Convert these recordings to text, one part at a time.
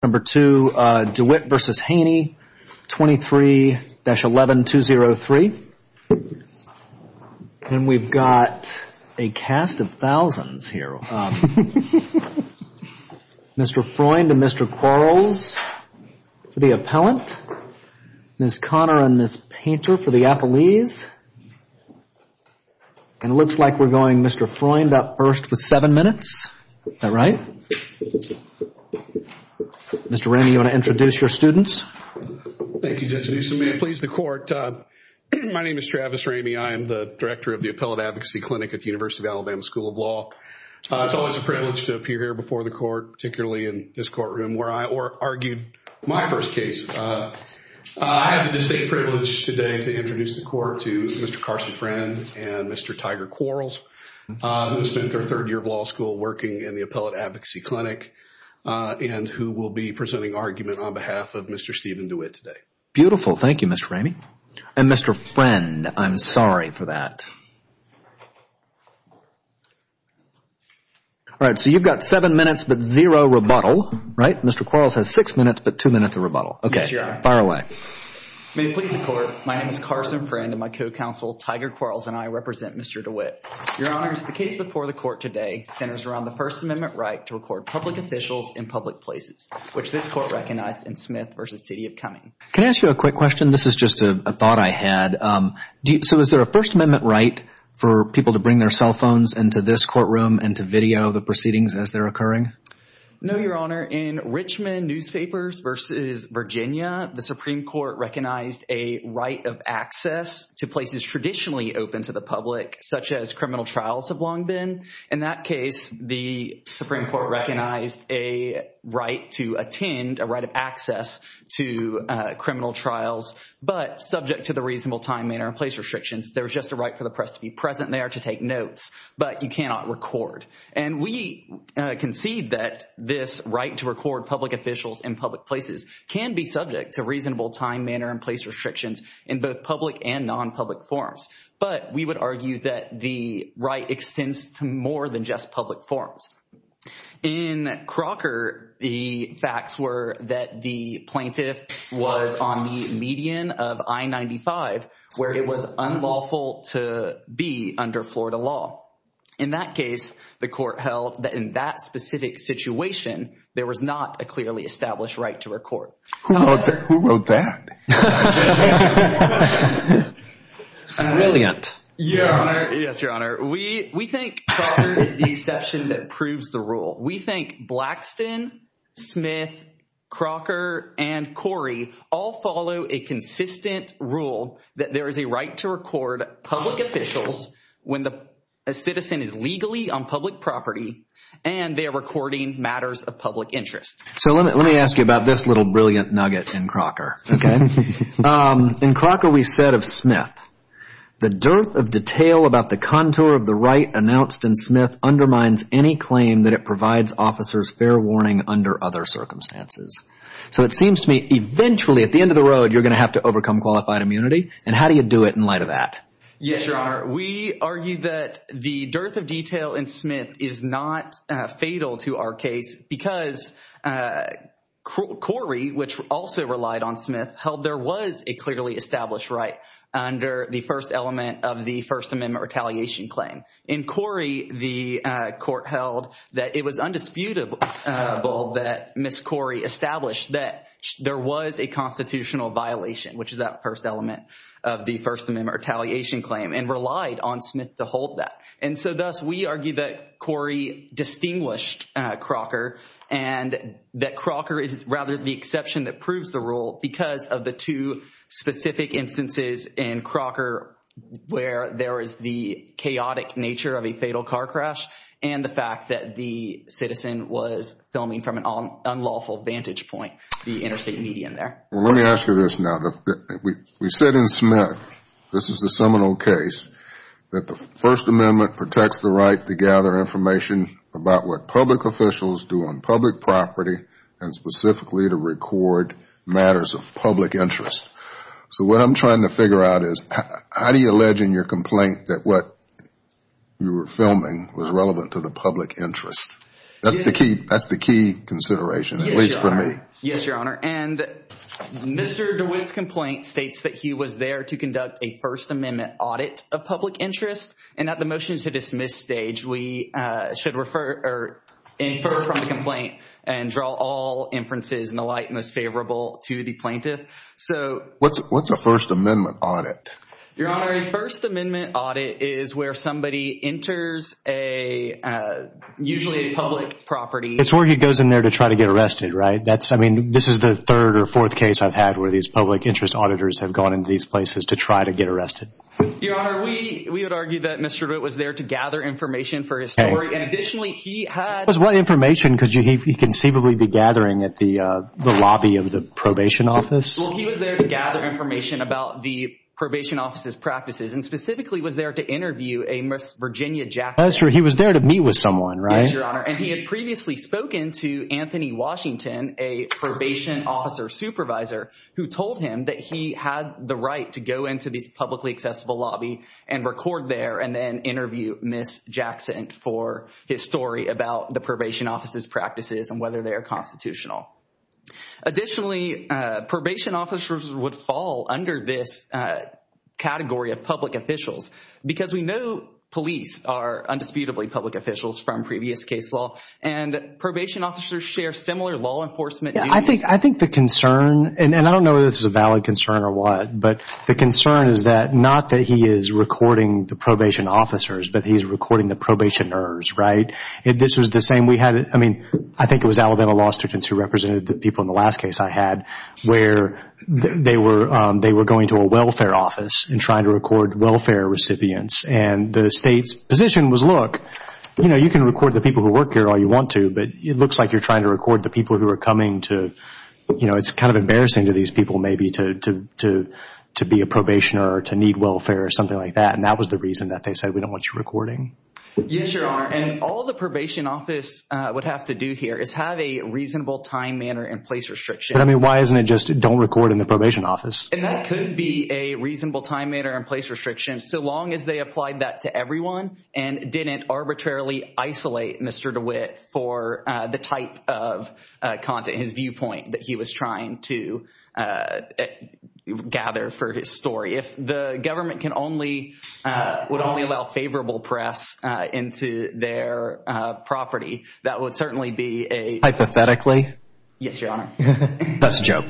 Number two, Dewitt v. Haney, 23-11203. And we've got a cast of thousands here. Mr. Freund and Mr. Quarles for the appellant. Ms. Connor and Ms. Painter for the appellees. And it looks like we're going Mr. Freund up first with seven minutes. Is that right? Mr. Ramey, you want to introduce your students? Thank you, Judge Newsom. May it please the court. My name is Travis Ramey. I am the director of the Appellate Advocacy Clinic at the University of Alabama School of Law. It's always a privilege to appear here before the court, particularly in this courtroom where I argued my first case. I have the distinct privilege today to introduce the court to Mr. Carson Freund and Mr. Tiger Quarles, who spent their third year of law school working in the Appellate Advocacy Clinic and who will be presenting argument on behalf of Mr. Stephen Dewitt today. Beautiful. Thank you, Mr. Ramey. And Mr. Freund, I'm sorry for that. All right, so you've got seven minutes, but zero rebuttal, right? Mr. Quarles has six minutes, but two minutes of rebuttal. OK, fire away. May it please the court. My name is Carson Freund and my co-counsel Tiger Quarles and I represent Mr. Dewitt. Your honors, the case before the court today centers around the First Amendment right to record public officials in public places, which this court recognized in Smith versus City of Cumming. Can I ask you a quick question? This is just a thought I had. So is there a First Amendment right for people to bring their cell phones into this courtroom and to video the proceedings as they're occurring? No, your honor. In Richmond newspapers versus Virginia, the Supreme Court recognized a right of access to places traditionally open to the public, such as criminal trials have long been. In that case, the Supreme Court recognized a right to attend, a right of access to criminal trials, but subject to the reasonable time, manner, and place restrictions. There was just a right for the press to be present there, to take notes, but you cannot record. And we concede that this right to record public officials in public places can be subject to reasonable time, manner, and place restrictions in both public and non-public forms. But we would argue that the right extends to more than just public forms. In Crocker, the facts were that the plaintiff was on the median of I-95, where it was unlawful to be under Florida law. In that case, the court held that in that specific situation, there was not a clearly established right to record. Who wrote that? Brilliant. Your Honor, yes, Your Honor. We think Crocker is the exception that proves the rule. We think Blackston, Smith, Crocker, and Corey all follow a consistent rule that there is a right to record public officials when a citizen is legally on public property and they are recording matters of public interest. So let me ask you about this little brilliant nugget in Crocker. In Crocker, we said of Smith, the dearth of detail about the contour of the right announced in Smith undermines any claim that it provides officers fair warning under other circumstances. So it seems to me, eventually, at the end of the road, you're going to have to overcome qualified immunity. And how do you do it in light of that? Yes, Your Honor. We argue that the dearth of detail in Smith is not fatal to our case because Corey, which also relied on Smith, held there was a clearly established right under the first element of the First Amendment retaliation claim. In Corey, the court held that it was undisputable that Ms. Corey established that there was a constitutional violation, which is that first element of the First Amendment retaliation claim, and relied on Smith to hold that. And so thus, we argue that Corey distinguished Crocker and that Crocker is rather the exception that proves the rule because of the two specific instances in Crocker where there is the chaotic nature of a fatal car crash and the fact that the citizen was filming from an unlawful vantage point, the interstate media in there. Well, let me ask you this now. We said in Smith, this is the seminal case, that the First Amendment protects the right to gather information about what public officials do on public property and specifically to record matters of public interest. So what I'm trying to figure out is, how do you allege in your complaint that what you were filming was relevant to the public interest? That's the key consideration, at least for me. Yes, Your Honor. And Mr. DeWitt's complaint states that he was there to conduct a First Amendment audit of public interest. And at the motion to dismiss stage, we should refer or infer from the complaint and draw all inferences in the light most favorable to the plaintiff. So- What's a First Amendment audit? Your Honor, a First Amendment audit is where somebody enters a, usually a public property- It's where he goes in there to try to get arrested, right? That's, I mean, this is the third or fourth case I've had where these public interest auditors have gone into these places to try to get arrested. Your Honor, we would argue that Mr. DeWitt was there to gather information for his story. And additionally, he had- Was what information? Could he conceivably be gathering at the lobby of the probation office? Well, he was there to gather information about the probation office's practices and specifically was there to interview a Miss Virginia Jackson. That's right, he was there to meet with someone, right? Yes, Your Honor. And he had previously spoken to Anthony Washington, a probation officer supervisor, who told him that he had the right to go into this publicly accessible lobby and record there and then interview Miss Jackson for his story about the probation office's practices and whether they are constitutional. Additionally, probation officers would fall under this category of public officials because we know police are undisputably public officials from previous case law, and probation officers share similar law enforcement duties. I think the concern, and I don't know if this is a valid concern or what, but the concern is that, not that he is recording the probation officers, but he's recording the probationers, right? This was the same, we had- I mean, I think it was Alabama law students who represented the people in the last case I had where they were going to a welfare office and trying to record welfare recipients. And the state's position was, look, you can record the people who work here all you want to, but it looks like you're trying to record the people who are coming to- It's kind of embarrassing to these people, maybe, to be a probationer or to need welfare or something like that. And that was the reason that they said, we don't want you recording. Yes, Your Honor. And all the probation office would have to do here is have a reasonable time, manner, and place restriction. I mean, why isn't it just, don't record in the probation office? And that could be a reasonable time, manner, and place restriction, so long as they applied that to everyone and didn't arbitrarily isolate Mr. DeWitt for the type of content, his viewpoint, that he was trying to gather for his story. If the government would only allow favorable press into their property, that would certainly be a- Hypothetically? Yes, Your Honor. That's a joke.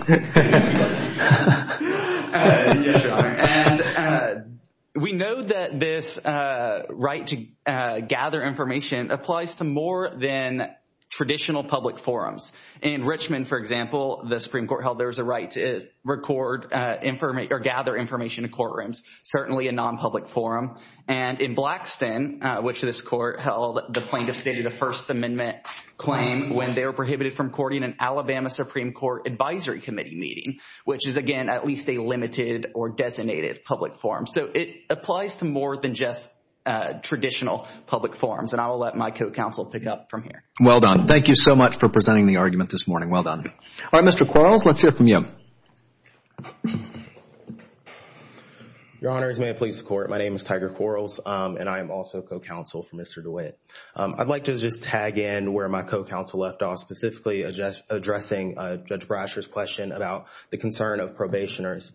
We know that this right to gather information applies to more than traditional public forums. In Richmond, for example, the Supreme Court held there was a right to record or gather information in courtrooms, certainly a non-public forum. And in Blackston, which this court held, the plaintiff stated a First Amendment claim when they were prohibited from courting an Alabama Supreme Court Advisory Committee meeting, which is, again, at least a limited or designated public forum. So it applies to more than just traditional public forums. And I will let my co-counsel pick up from here. Well done. Thank you so much for presenting the argument this morning. Well done. All right, Mr. Quarles, let's hear from you. Your Honor, as may it please the Court, my name is Tiger Quarles, and I am also co-counsel for Mr. DeWitt. I'd like to just tag in where my co-counsel left off, specifically addressing Judge Brasher's question about the concern of probationers.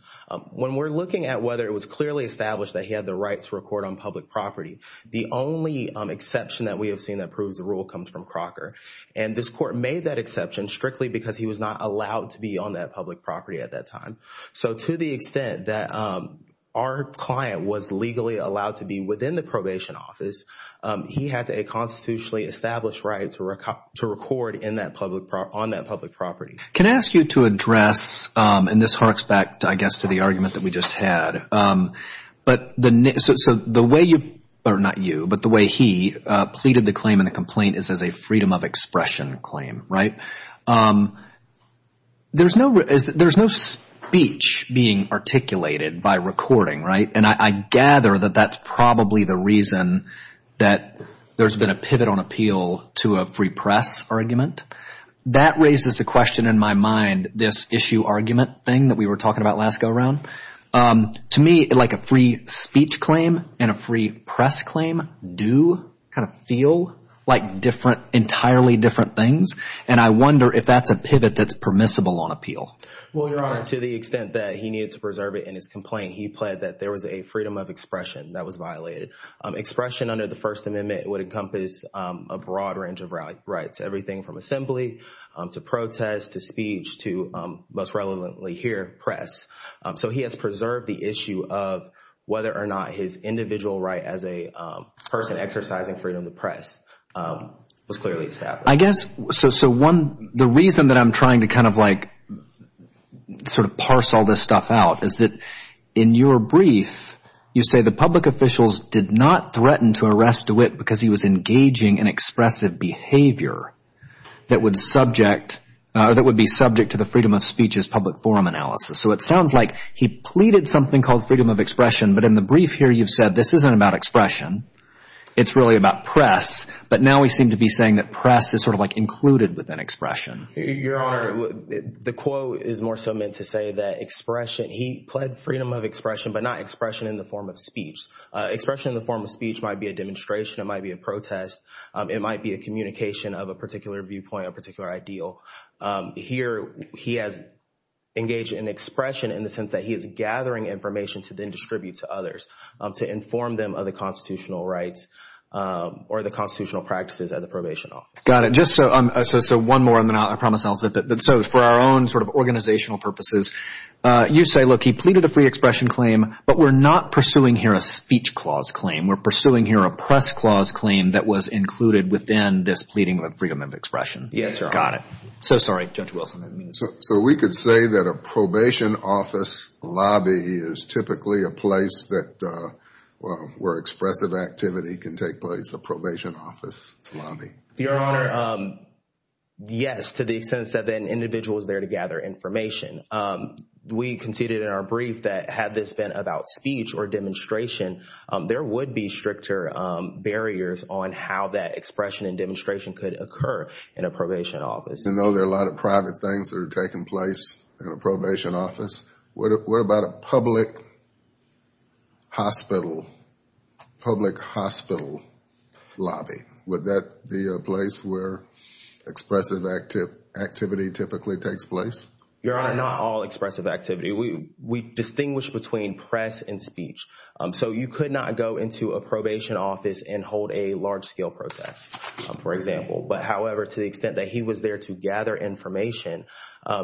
When we're looking at whether it was clearly established that he had the right to record on public property, the only exception that we have seen that proves the rule comes from Crocker. And this Court made that exception strictly because he was not allowed to be on that public property at that time. So to the extent that our client was legally allowed to be within the probation office, he has a constitutionally established right to record on that public property. Can I ask you to address, and this harks back, I guess, to the argument that we just had, but the way you, or not you, but the way he pleaded the claim in the complaint is as a freedom of expression claim, right? There's no speech being articulated by recording, right? And I gather that that's probably the reason that there's been a pivot on appeal to a free press argument. That raises the question in my mind, this issue argument thing that we were talking about last go-around. To me, like a free speech claim and a free press claim do kind of feel like different, entirely different things. And I wonder if that's a pivot that's permissible on appeal. Well, Your Honor, to the extent that he needed to preserve it in his complaint, he pled that there was a freedom of expression that was violated. Expression under the First Amendment would encompass a broad range of rights. Everything from assembly, to protest, to speech, to most relevantly here, press. So he has preserved the issue of whether or not his individual right as a person exercising freedom of the press was clearly established. I guess, so one, the reason that I'm trying to kind of like sort of parse all this stuff out is that in your brief, you say the public officials did not threaten to arrest DeWitt because he was engaging in expressive behavior that would subject, that would be subject to the Freedom of Speech's public forum analysis. So it sounds like he pleaded something called freedom of expression, but in the brief here, you've said this isn't about expression, it's really about press, but now we seem to be saying that press is sort of like included within expression. Your Honor, the quote is more so meant to say that expression, he pled freedom of expression, but not expression in the form of speech. Expression in the form of speech might be a demonstration, it might be a protest, it might be a communication of a particular viewpoint, a particular ideal. Here, he has engaged in expression in the sense that he is gathering information to then distribute to others, to inform them of the constitutional rights or the constitutional practices at the probation office. Got it. Just so one more, and then I promise I'll slip it. So for our own sort of organizational purposes, you say, look, he pleaded a free expression claim, but we're not pursuing here a speech clause claim. We're pursuing here a press clause claim that was included within this pleading of freedom of expression. Yes, Your Honor. Got it. So sorry, Judge Wilson. So we could say that a probation office lobby is typically a place where expressive activity can take place, a probation office lobby. Your Honor, yes, to the extent that an individual is there to gather information. We conceded in our brief that had this been about speech or demonstration, there would be stricter barriers on how that expression and demonstration could occur in a probation office. And though there are a lot of private things that are taking place in a probation office, what about a public hospital, public hospital lobby? Would that be a place where expressive activity typically takes place? Your Honor, not all expressive activity. We distinguish between press and speech. So you could not go into a probation office and hold a large scale protest, for example. But however, to the extent that he was there to gather information,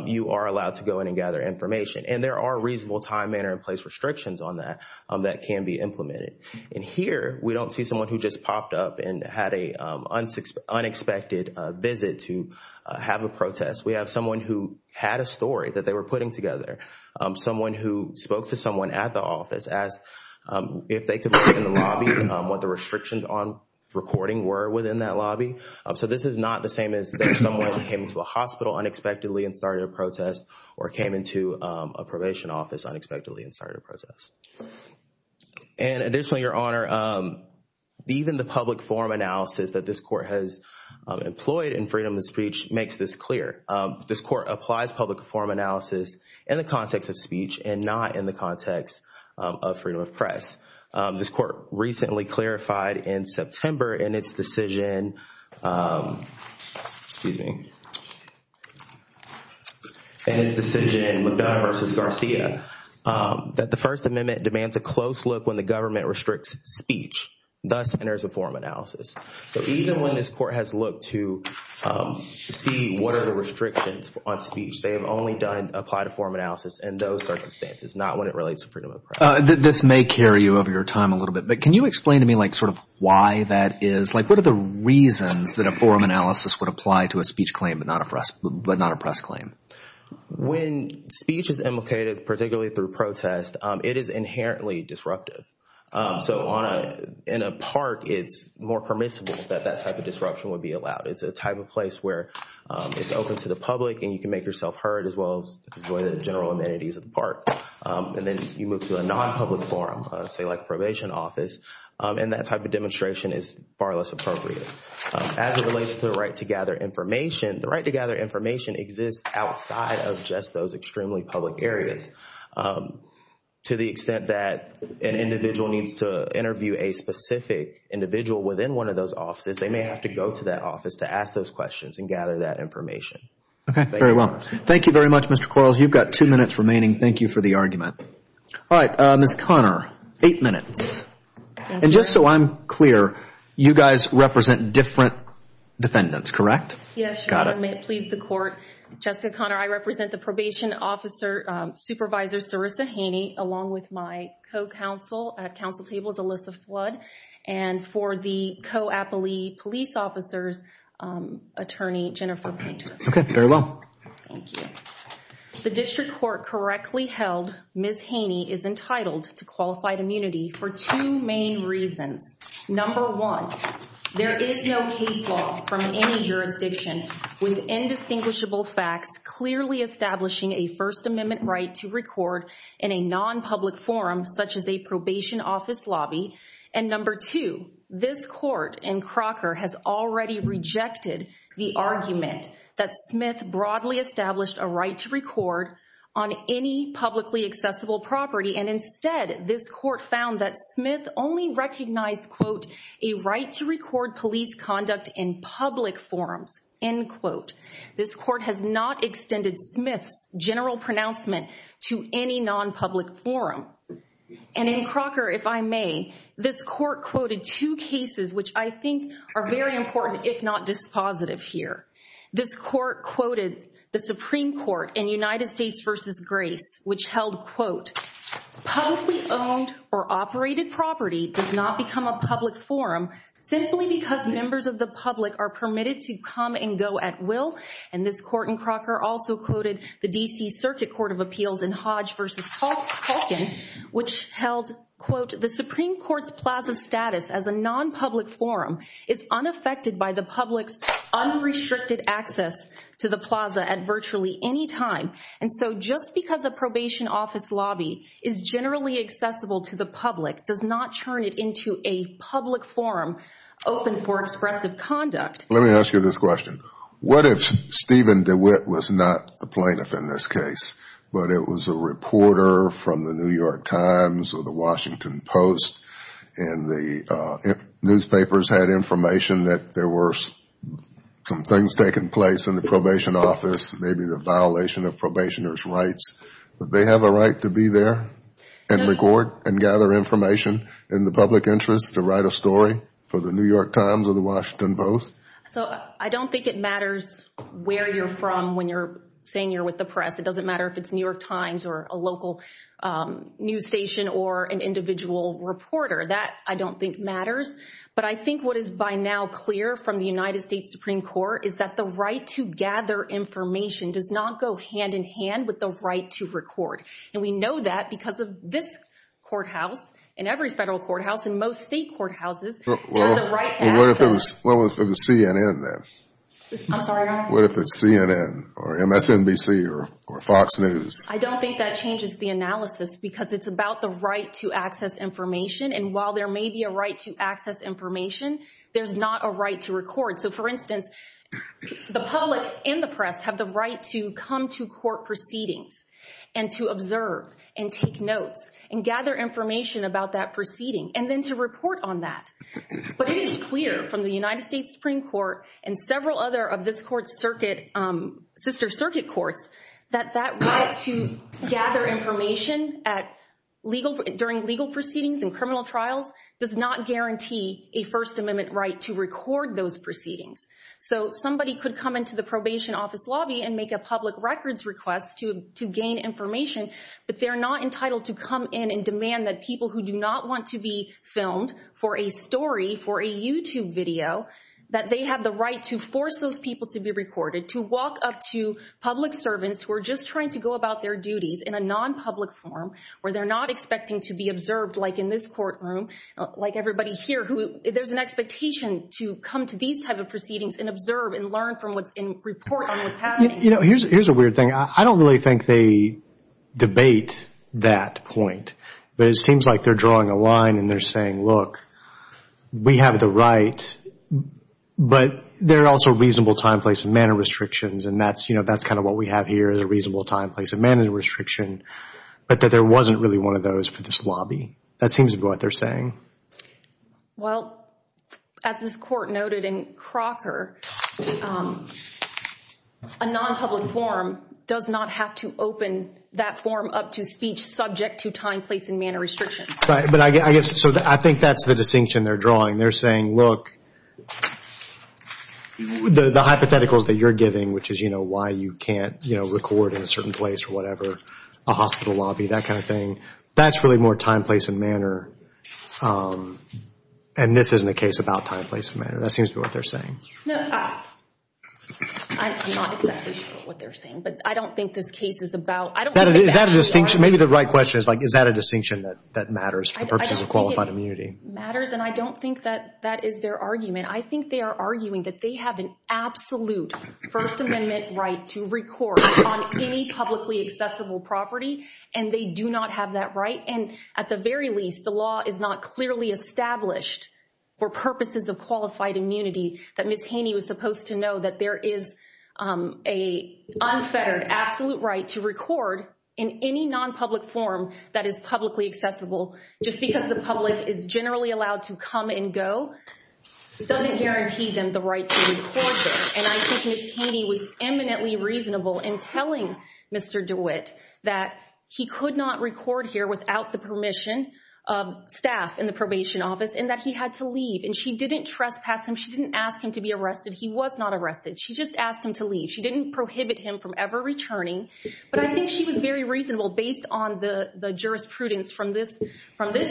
you are allowed to go in and gather information. And there are reasonable time, manner, and place restrictions on that that can be implemented. And here, we don't see someone who just popped up and had a unexpected visit to have a protest. We have someone who had a story that they were putting together. Someone who spoke to someone at the office asked if they could see in the lobby what the restrictions on recording were within that lobby. So this is not the same as someone who came into a hospital unexpectedly and started a protest or came into a probation office unexpectedly and started a protest. And additionally, Your Honor, even the public forum analysis that this court has employed in freedom of speech makes this clear. This court applies public forum analysis in the context of speech and not in the context of freedom of press. This court recently clarified in September in its decision, excuse me, in its decision, McDonough versus Garcia, that the First Amendment demands a close look when the government restricts speech, thus enters a forum analysis. So even when this court has looked to see what are the restrictions on speech, they have only done, applied a forum analysis in those circumstances, not when it relates to freedom of press. This may carry you over your time a little bit, but can you explain to me like sort of why that is? Like, what are the reasons that a forum analysis would apply to a speech claim? But not a press claim. When speech is imitated, particularly through protest, it is inherently disruptive. So in a park, it's more permissible that that type of disruption would be allowed. It's a type of place where it's open to the public and you can make yourself heard as well as enjoy the general amenities of the park. And then you move to a non-public forum, say like a probation office, and that type of demonstration is far less appropriate. As it relates to the right to gather information, the right to gather information exists outside of just those extremely public areas. To the extent that an individual needs to interview a specific individual within one of those offices, they may have to go to that office to ask those questions and gather that information. Okay, very well. Thank you very much, Mr. Quarles. You've got two minutes remaining. Thank you for the argument. All right, Ms. Conner, eight minutes. And just so I'm clear, you guys represent different defendants, correct? Yes, Your Honor. Got it. May it please the court. Jessica Conner, I represent the probation officer, Supervisor Sarissa Haney, along with my co-counsel at Council Tables, Alyssa Flood, and for the co-appellee police officers, Attorney Jennifer Blanton. Okay, very well. Thank you. The district court correctly held Ms. Haney is entitled to qualified immunity for two main reasons. Number one, there is no case law from any jurisdiction with indistinguishable facts clearly establishing a First Amendment right to record in a non-public forum, such as a probation office lobby. And number two, this court in Crocker has already rejected the argument that Smith broadly established a right to record on any publicly accessible property. And instead, this court found that Smith only recognized, a right to record police conduct in public forums, end quote. This court has not extended Smith's general pronouncement to any non-public forum. And in Crocker, if I may, this court quoted two cases which I think are very important, if not dispositive here. This court quoted the Supreme Court in United States versus Grace, which held, publicly owned or operated property does not become a public forum simply because members of the public are permitted to come and go at will. And this court in Crocker also quoted the DC Circuit Court of Appeals in Hodge versus Hawkins, which held, quote, the Supreme Court's plaza status as a non-public forum is unaffected by the public's unrestricted access to the plaza at virtually any time. And so just because a probation office lobby is generally accessible to the public does not turn it into a public forum open for expressive conduct. Let me ask you this question. What if Stephen DeWitt was not the plaintiff in this case, but it was a reporter from the New York Times or the Washington Post, and the newspapers had information that there were some things taking place in the probation office, maybe the violation of probationer's rights. Would they have a right to be there and record and gather information in the public interest to write a story for the New York Times or the Washington Post? So I don't think it matters where you're from when you're saying you're with the press. It doesn't matter if it's New York Times or a local news station or an individual reporter. That I don't think matters. But I think what is by now clear from the United States Supreme Court is that the right to gather information does not go hand in hand with the right to record. And we know that because of this courthouse and every federal courthouse and most state courthouses has a right to access. Well, what if it was CNN then? I'm sorry? What if it's CNN or MSNBC or Fox News? I don't think that changes the analysis because it's about the right to access information. And while there may be a right to access information, there's not a right to record. So for instance, the public and the press have the right to come to court proceedings and to observe and take notes and gather information about that proceeding and then to report on that. But it is clear from the United States Supreme Court and several other of this court's sister circuit courts that that right to gather information during legal proceedings and criminal trials does not guarantee a First Amendment right to record those proceedings. So somebody could come into the probation office lobby and make a public records request to gain information, but they're not entitled to come in and demand that people who do not want to be filmed for a story, for a YouTube video, that they have the right to force those people to be recorded, to walk up to public servants who are just trying to go about their duties in a non-public forum, where they're not expecting to be observed like in this courtroom, like everybody here, who there's an expectation to come to these type of proceedings and observe and learn from what's in report on what's happening. Here's a weird thing. I don't really think they debate that point, but it seems like they're drawing a line and they're saying, look, we have the right, but there are also reasonable time, place, and manner restrictions, and that's kind of what we have here is a reasonable time, place, and manner restriction, but that there wasn't really one of those for this lobby. That seems to be what they're saying. Well, as this court noted in Crocker, a non-public forum does not have to open that forum up to speech subject to time, place, and manner restrictions. But I guess, so I think that's the distinction they're drawing. They're saying, look, the hypotheticals that you're giving, which is why you can't record in a certain place or whatever, a hospital lobby, that kind of thing, that's really more time, place, and manner, and this isn't a case about time, place, and manner. That seems to be what they're saying. No, I'm not exactly sure what they're saying, but I don't think this case is about, I don't think it's actually about time. Is that a distinction? Maybe the right question is like, is that a distinction that matters for purposes of qualified immunity? Matters, and I don't think that that is their argument. I think they are arguing that they have an absolute First Amendment right to record on any publicly accessible property, and they do not have that right, and at the very least, the law is not clearly established for purposes of qualified immunity that Ms. Haney was supposed to know that there is a unfettered absolute right to record in any non-public form that is publicly accessible, just because the public is generally allowed to come and go doesn't guarantee them the right to record there, and I think Ms. Haney was eminently reasonable in telling Mr. DeWitt that he could not record here without the permission of staff in the probation office and that he had to leave, and she didn't trespass him. She didn't ask him to be arrested. He was not arrested. She just asked him to leave. She didn't prohibit him from ever returning, but I think she was very reasonable based on the jurisprudence from this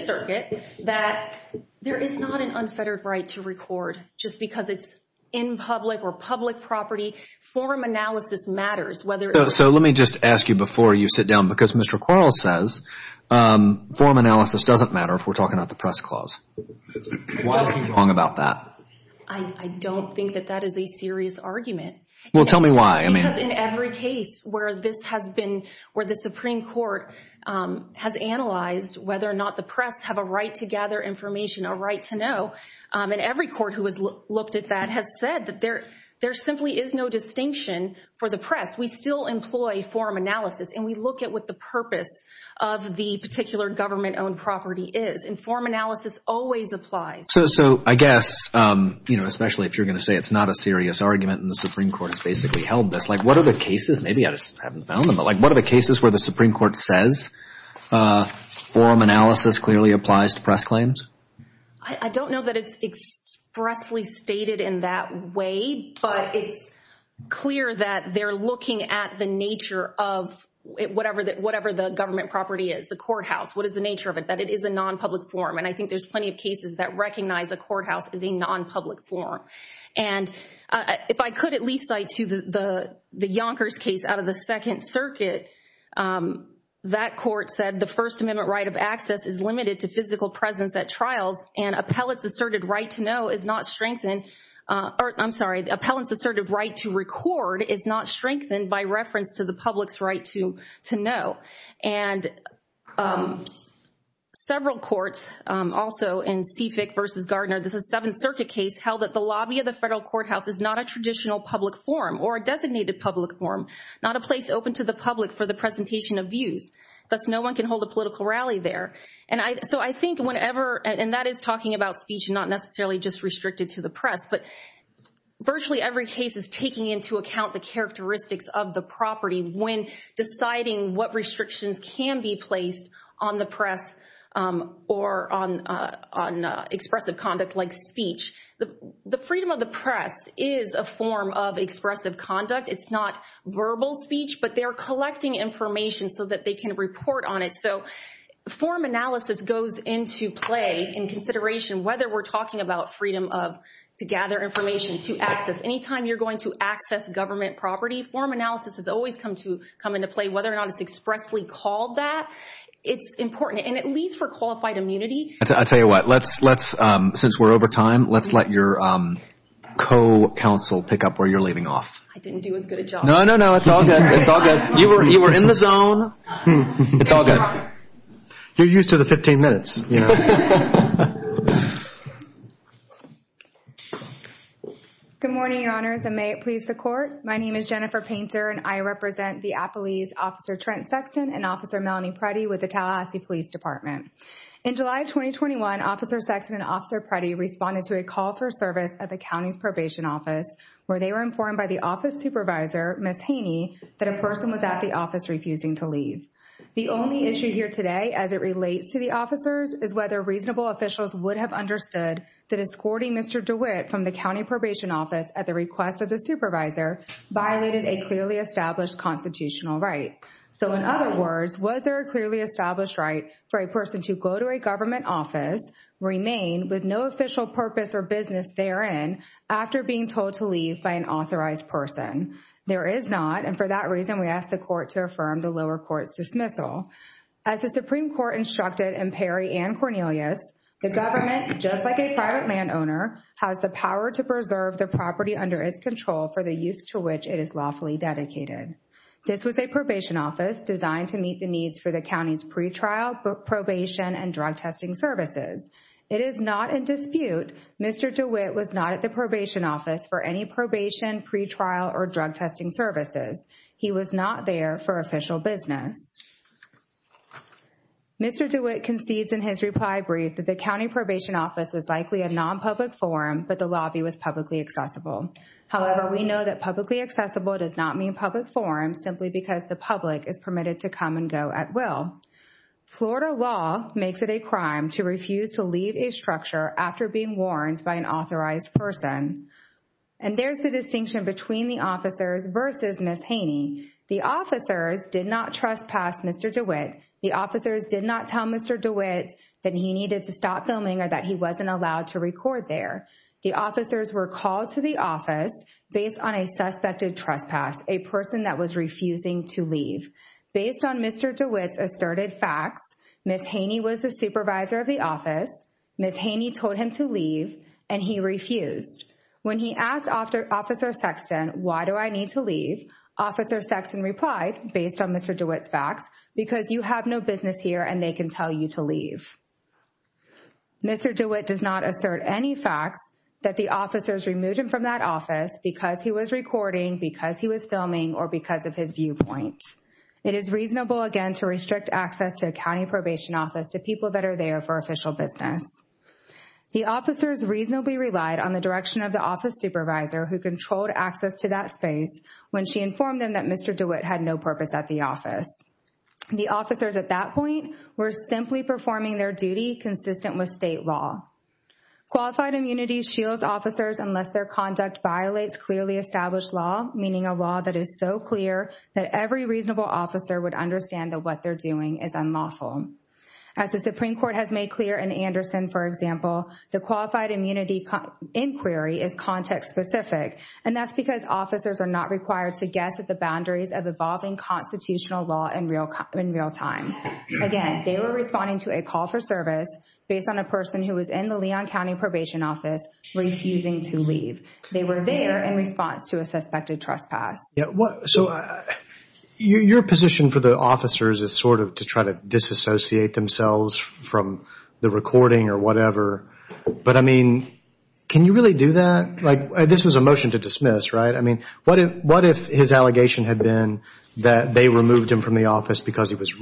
circuit that there is not an unfettered right to record just because it's in public or public property. Form analysis matters, whether it's- So let me just ask you before you sit down, because Mr. Quarles says form analysis doesn't matter if we're talking about the press clause. Why is he wrong about that? I don't think that that is a serious argument. Well, tell me why. Because in every case where this has been, where the Supreme Court has analyzed whether or not the press have a right to gather information, a right to know, and every court who has looked at that has said that there simply is no distinction for the press. We still employ form analysis, and we look at what the purpose of the particular government-owned property is, and form analysis always applies. So I guess, especially if you're going to say it's not a serious argument and the Supreme Court has basically held this, like, what are the cases, maybe I just haven't found them, but what are the cases where the Supreme Court says form analysis clearly applies to press claims? I don't know that it's expressly stated in that way, but it's clear that they're looking at the nature of whatever the government property is, the courthouse, what is the nature of it, that it is a non-public form, and I think there's plenty of cases that recognize a courthouse as a non-public form. And if I could at least cite to the Yonkers case out of the Second Circuit, that court said the First Amendment right of access is limited to physical presence at trials, and appellant's asserted right to know is not strengthened, or I'm sorry, the appellant's asserted right to record is not strengthened by reference to the public's right to know. And several courts, also in Sefick versus Gardner, this is a Seventh Circuit case, held that the lobby of the federal courthouse is not a traditional public forum, or a designated public forum, not a place open to the public for the presentation of views, thus no one can hold a political rally there. And so I think whenever, and that is talking about speech and not necessarily just restricted to the press, but virtually every case is taking into account the characteristics of the property when deciding what restrictions can be placed on the press or on expressive conduct like speech. The freedom of the press is a form of expressive conduct, it's not verbal speech, but they're collecting information so that they can report on it. So forum analysis goes into play in consideration whether we're talking about freedom of, to gather information, to access. Anytime you're going to access government property, forum analysis has always come into play, whether or not it's expressly called that, it's important, and at least for qualified immunity. I tell you what, let's, since we're over time, let's let your co-counsel pick up where you're leaving off. I didn't do as good a job. No, no, no, it's all good, it's all good. You were in the zone, it's all good. You're used to the 15 minutes, you know. Good morning, your honors, and may it please the court. My name is Jennifer Painter, and I represent the Appalese Officer Trent Sexton and Officer Melanie Preddy with the Tallahassee Police Department. In July of 2021, Officer Sexton and Officer Preddy responded to a call for service at the county's probation office, where they were informed by the office supervisor, Ms. Haney, that a person was at the office refusing to leave. The only issue here today, as it relates to the officers, is whether reasonable officials would have understood that escorting Mr. DeWitt from the county probation office at the request of the supervisor violated a clearly established constitutional right. So in other words, was there a clearly established right for a person to go to a government office, remain with no official purpose or business therein, after being told to leave by an authorized person? There is not, and for that reason, we ask the court to affirm the lower court's dismissal. As the Supreme Court instructed in Perry and Cornelius, the government, just like a private landowner, has the power to preserve the property under its control for the use to which it is lawfully dedicated. This was a probation office designed to meet the needs for the county's pretrial, probation, and drug testing services. It is not in dispute Mr. DeWitt was not at the probation office for any probation, pretrial, or drug testing services. He was not there for official business. Mr. DeWitt concedes in his reply brief that the county probation office was likely a non-public forum, but the lobby was publicly accessible. However, we know that publicly accessible does not mean public forum, simply because the public is permitted to come and go at will. Florida law makes it a crime to refuse to leave a structure after being warned by an authorized person. And there's the distinction between the officers versus Ms. Haney. The officers did not trespass Mr. DeWitt. The officers did not tell Mr. DeWitt that he needed to stop filming or that he wasn't allowed to record there. The officers were called to the office based on a suspected trespass, a person that was refusing to leave. Based on Mr. DeWitt's asserted facts, Ms. Haney was the supervisor of the office, Ms. Haney told him to leave, and he refused. When he asked Officer Sexton, why do I need to leave? Officer Sexton replied, based on Mr. DeWitt's facts, because you have no business here and they can tell you to leave. Mr. DeWitt does not assert any facts that the officers removed him from that office because he was recording, because he was filming, or because of his viewpoint. It is reasonable, again, to restrict access to a county probation office to people that are there for official business. The officers reasonably relied on the direction of the office supervisor who controlled access to that space when she informed them that Mr. DeWitt had no purpose at the office. The officers at that point were simply performing their duty consistent with state law. Qualified immunity shields officers unless their conduct violates clearly established law, meaning a law that is so clear that every reasonable officer would understand that what they're doing is unlawful. As the Supreme Court has made clear in Anderson, for example, the qualified immunity inquiry is context-specific, and that's because officers are not required to guess at the boundaries of evolving constitutional law in real time. Again, they were responding to a call for service based on a person who was in the Leon County Probation Office refusing to leave. They were there in response to a suspected trespass. Yeah, so your position for the officers is sort of to try to disassociate themselves from the recording or whatever, but I mean, can you really do that? Like, this was a motion to dismiss, right? I mean, what if his allegation had been that they removed him from the office because it was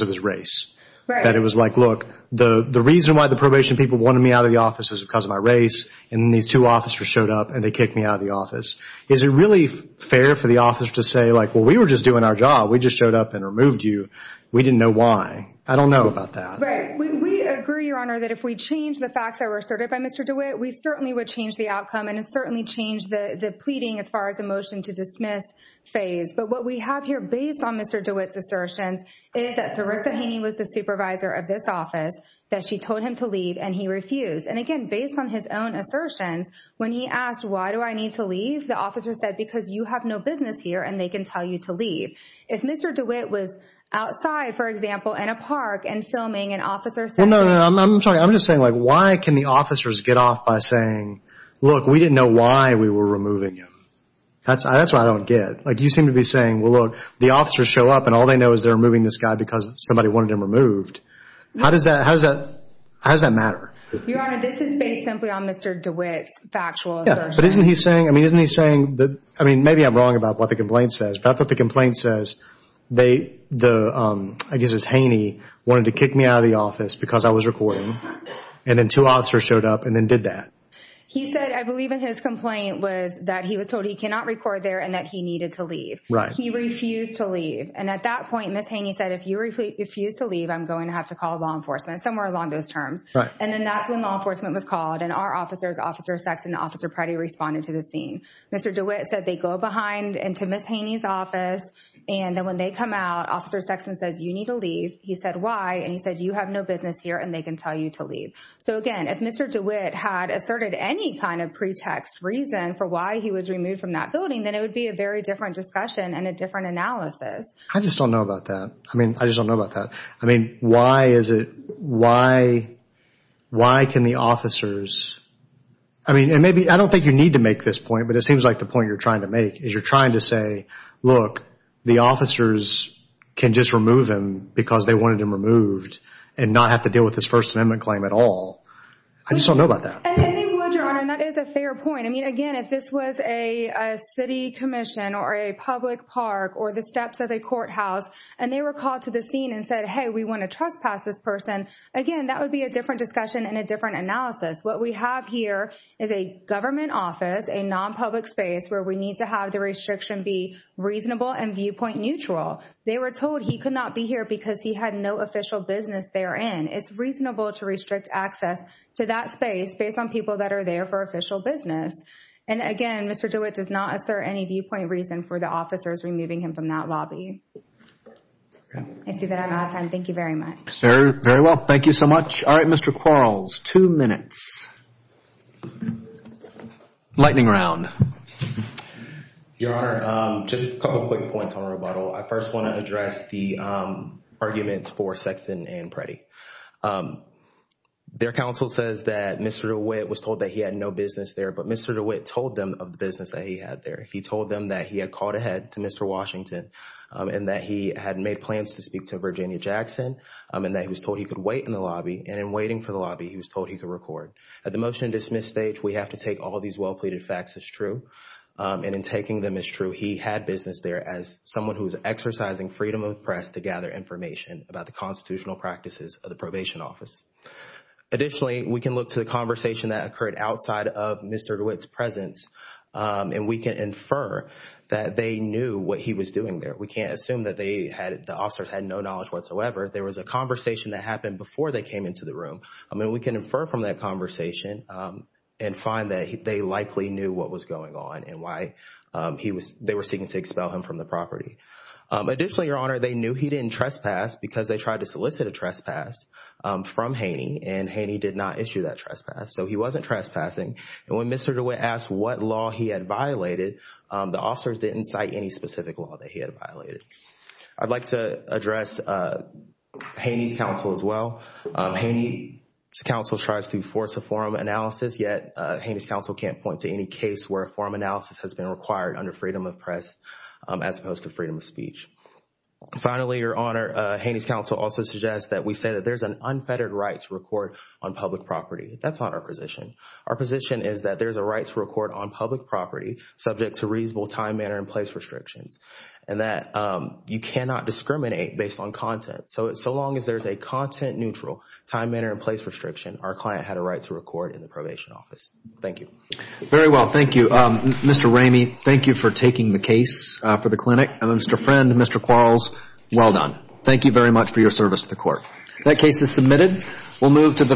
his race? That it was like, look, the reason why the probation people wanted me out of the office is because of my race, and these two officers showed up and they kicked me out of the office. Is it really fair for the officer to say, like, well, we were just doing our job. We just showed up and removed you. We didn't know why. I don't know about that. Right, we agree, Your Honor, that if we change the facts that were asserted by Mr. DeWitt, we certainly would change the outcome and certainly change the pleading as far as the motion to dismiss phase. But what we have here, based on Mr. DeWitt's assertions, is that Sarissa Haney was the supervisor of this office, that she told him to leave and he refused. And again, based on his own assertions, when he asked, why do I need to leave? The officer said, because you have no business here and they can tell you to leave. If Mr. DeWitt was outside, for example, in a park and filming, an officer said to him. Well, no, no, no, I'm sorry. I'm just saying, like, why can the officers get off by saying, look, we didn't know why we were removing him? That's what I don't get. You seem to be saying, well, look, the officers show up and all they know is they're removing this guy because somebody wanted him removed. How does that matter? Your Honor, this is based simply on Mr. DeWitt's factual assertions. But isn't he saying, I mean, isn't he saying that, I mean, maybe I'm wrong about what the complaint says, but I thought the complaint says they, the, I guess it's Haney, wanted to kick me out of the office because I was recording and then two officers showed up and then did that. He said, I believe in his complaint was that he was told he cannot record there and that he needed to leave. He refused to leave. And at that point, Ms. Haney said, if you refuse to leave, I'm going to have to call law enforcement, somewhere along those terms. And then that's when law enforcement was called and our officers, Officer Sexton and Officer Pretty responded to the scene. Mr. DeWitt said they go behind into Ms. Haney's office and then when they come out, Officer Sexton says, you need to leave. He said, why? And he said, you have no business here and they can tell you to leave. So again, if Mr. DeWitt had asserted any kind of pretext reason for why he was removed from that building, then it would be a very different discussion and a different analysis. I just don't know about that. I mean, I just don't know about that. I mean, why is it, why can the officers, I mean, and maybe I don't think you need to make this point, but it seems like the point you're trying to make is you're trying to say, look, the officers can just remove him because they wanted him removed and not have to deal with this First Amendment claim at all. I just don't know about that. And they would, Your Honor, and that is a fair point. I mean, again, if this was a city commission or a public park or the steps of a courthouse, and they were called to the scene and said, hey, we wanna trespass this person, again, that would be a different discussion and a different analysis. What we have here is a government office, a non-public space where we need to have the restriction be reasonable and viewpoint neutral. They were told he could not be here because he had no official business therein. It's reasonable to restrict access to that space based on people that are there for official business. And again, Mr. DeWitt does not assert any viewpoint reason for the officers removing him from that lobby. I see that I'm out of time. Thank you very much. Sir, very well. Thank you so much. All right, Mr. Quarles, two minutes. Lightning round. Your Honor, just a couple of quick points on rebuttal. I first wanna address the arguments for Sexton and Pretty. Their counsel says that Mr. DeWitt was told that he had no business there, but Mr. DeWitt told them of the business that he had there. He told them that he had called ahead to Mr. Washington and that he had made plans to speak to Virginia Jackson and that he was told he could wait in the lobby. And in waiting for the lobby, he was told he could record. At the motion to dismiss stage, we have to take all these well-pleaded facts as true. And in taking them as true, he had business there as someone who's exercising freedom of press to gather information about the constitutional practices of the probation office. Additionally, we can look to the conversation that occurred outside of Mr. DeWitt's presence and we can infer that they knew what he was doing there. We can't assume that the officers had no knowledge whatsoever. There was a conversation that happened before they came into the room. I mean, we can infer from that conversation and find that they likely knew what was going on and why they were seeking to expel him from the property. Additionally, Your Honor, they knew he didn't trespass because they tried to solicit a trespass from Haney and Haney did not issue that trespass. So he wasn't trespassing. And when Mr. DeWitt asked what law he had violated, the officers didn't cite any specific law that he had violated. I'd like to address Haney's counsel as well. Haney's counsel tries to force a forum analysis, yet Haney's counsel can't point to any case where a forum analysis has been required under freedom of press as opposed to freedom of speech. Finally, Your Honor, Haney's counsel also suggests that we say that there's an unfettered rights record on public property. That's not our position. Our position is that there's a rights record on public property subject to reasonable time, manner, and place restrictions and that you cannot discriminate based on content. So long as there's a content neutral, time, manner, and place restriction, our client had a right to record in the probation office. Thank you. Very well, thank you. Mr. Ramey, thank you for taking the case for the clinic. And Mr. Friend, Mr. Quarles, well done. Thank you very much for your service to the court. That case is submitted. We'll move to the.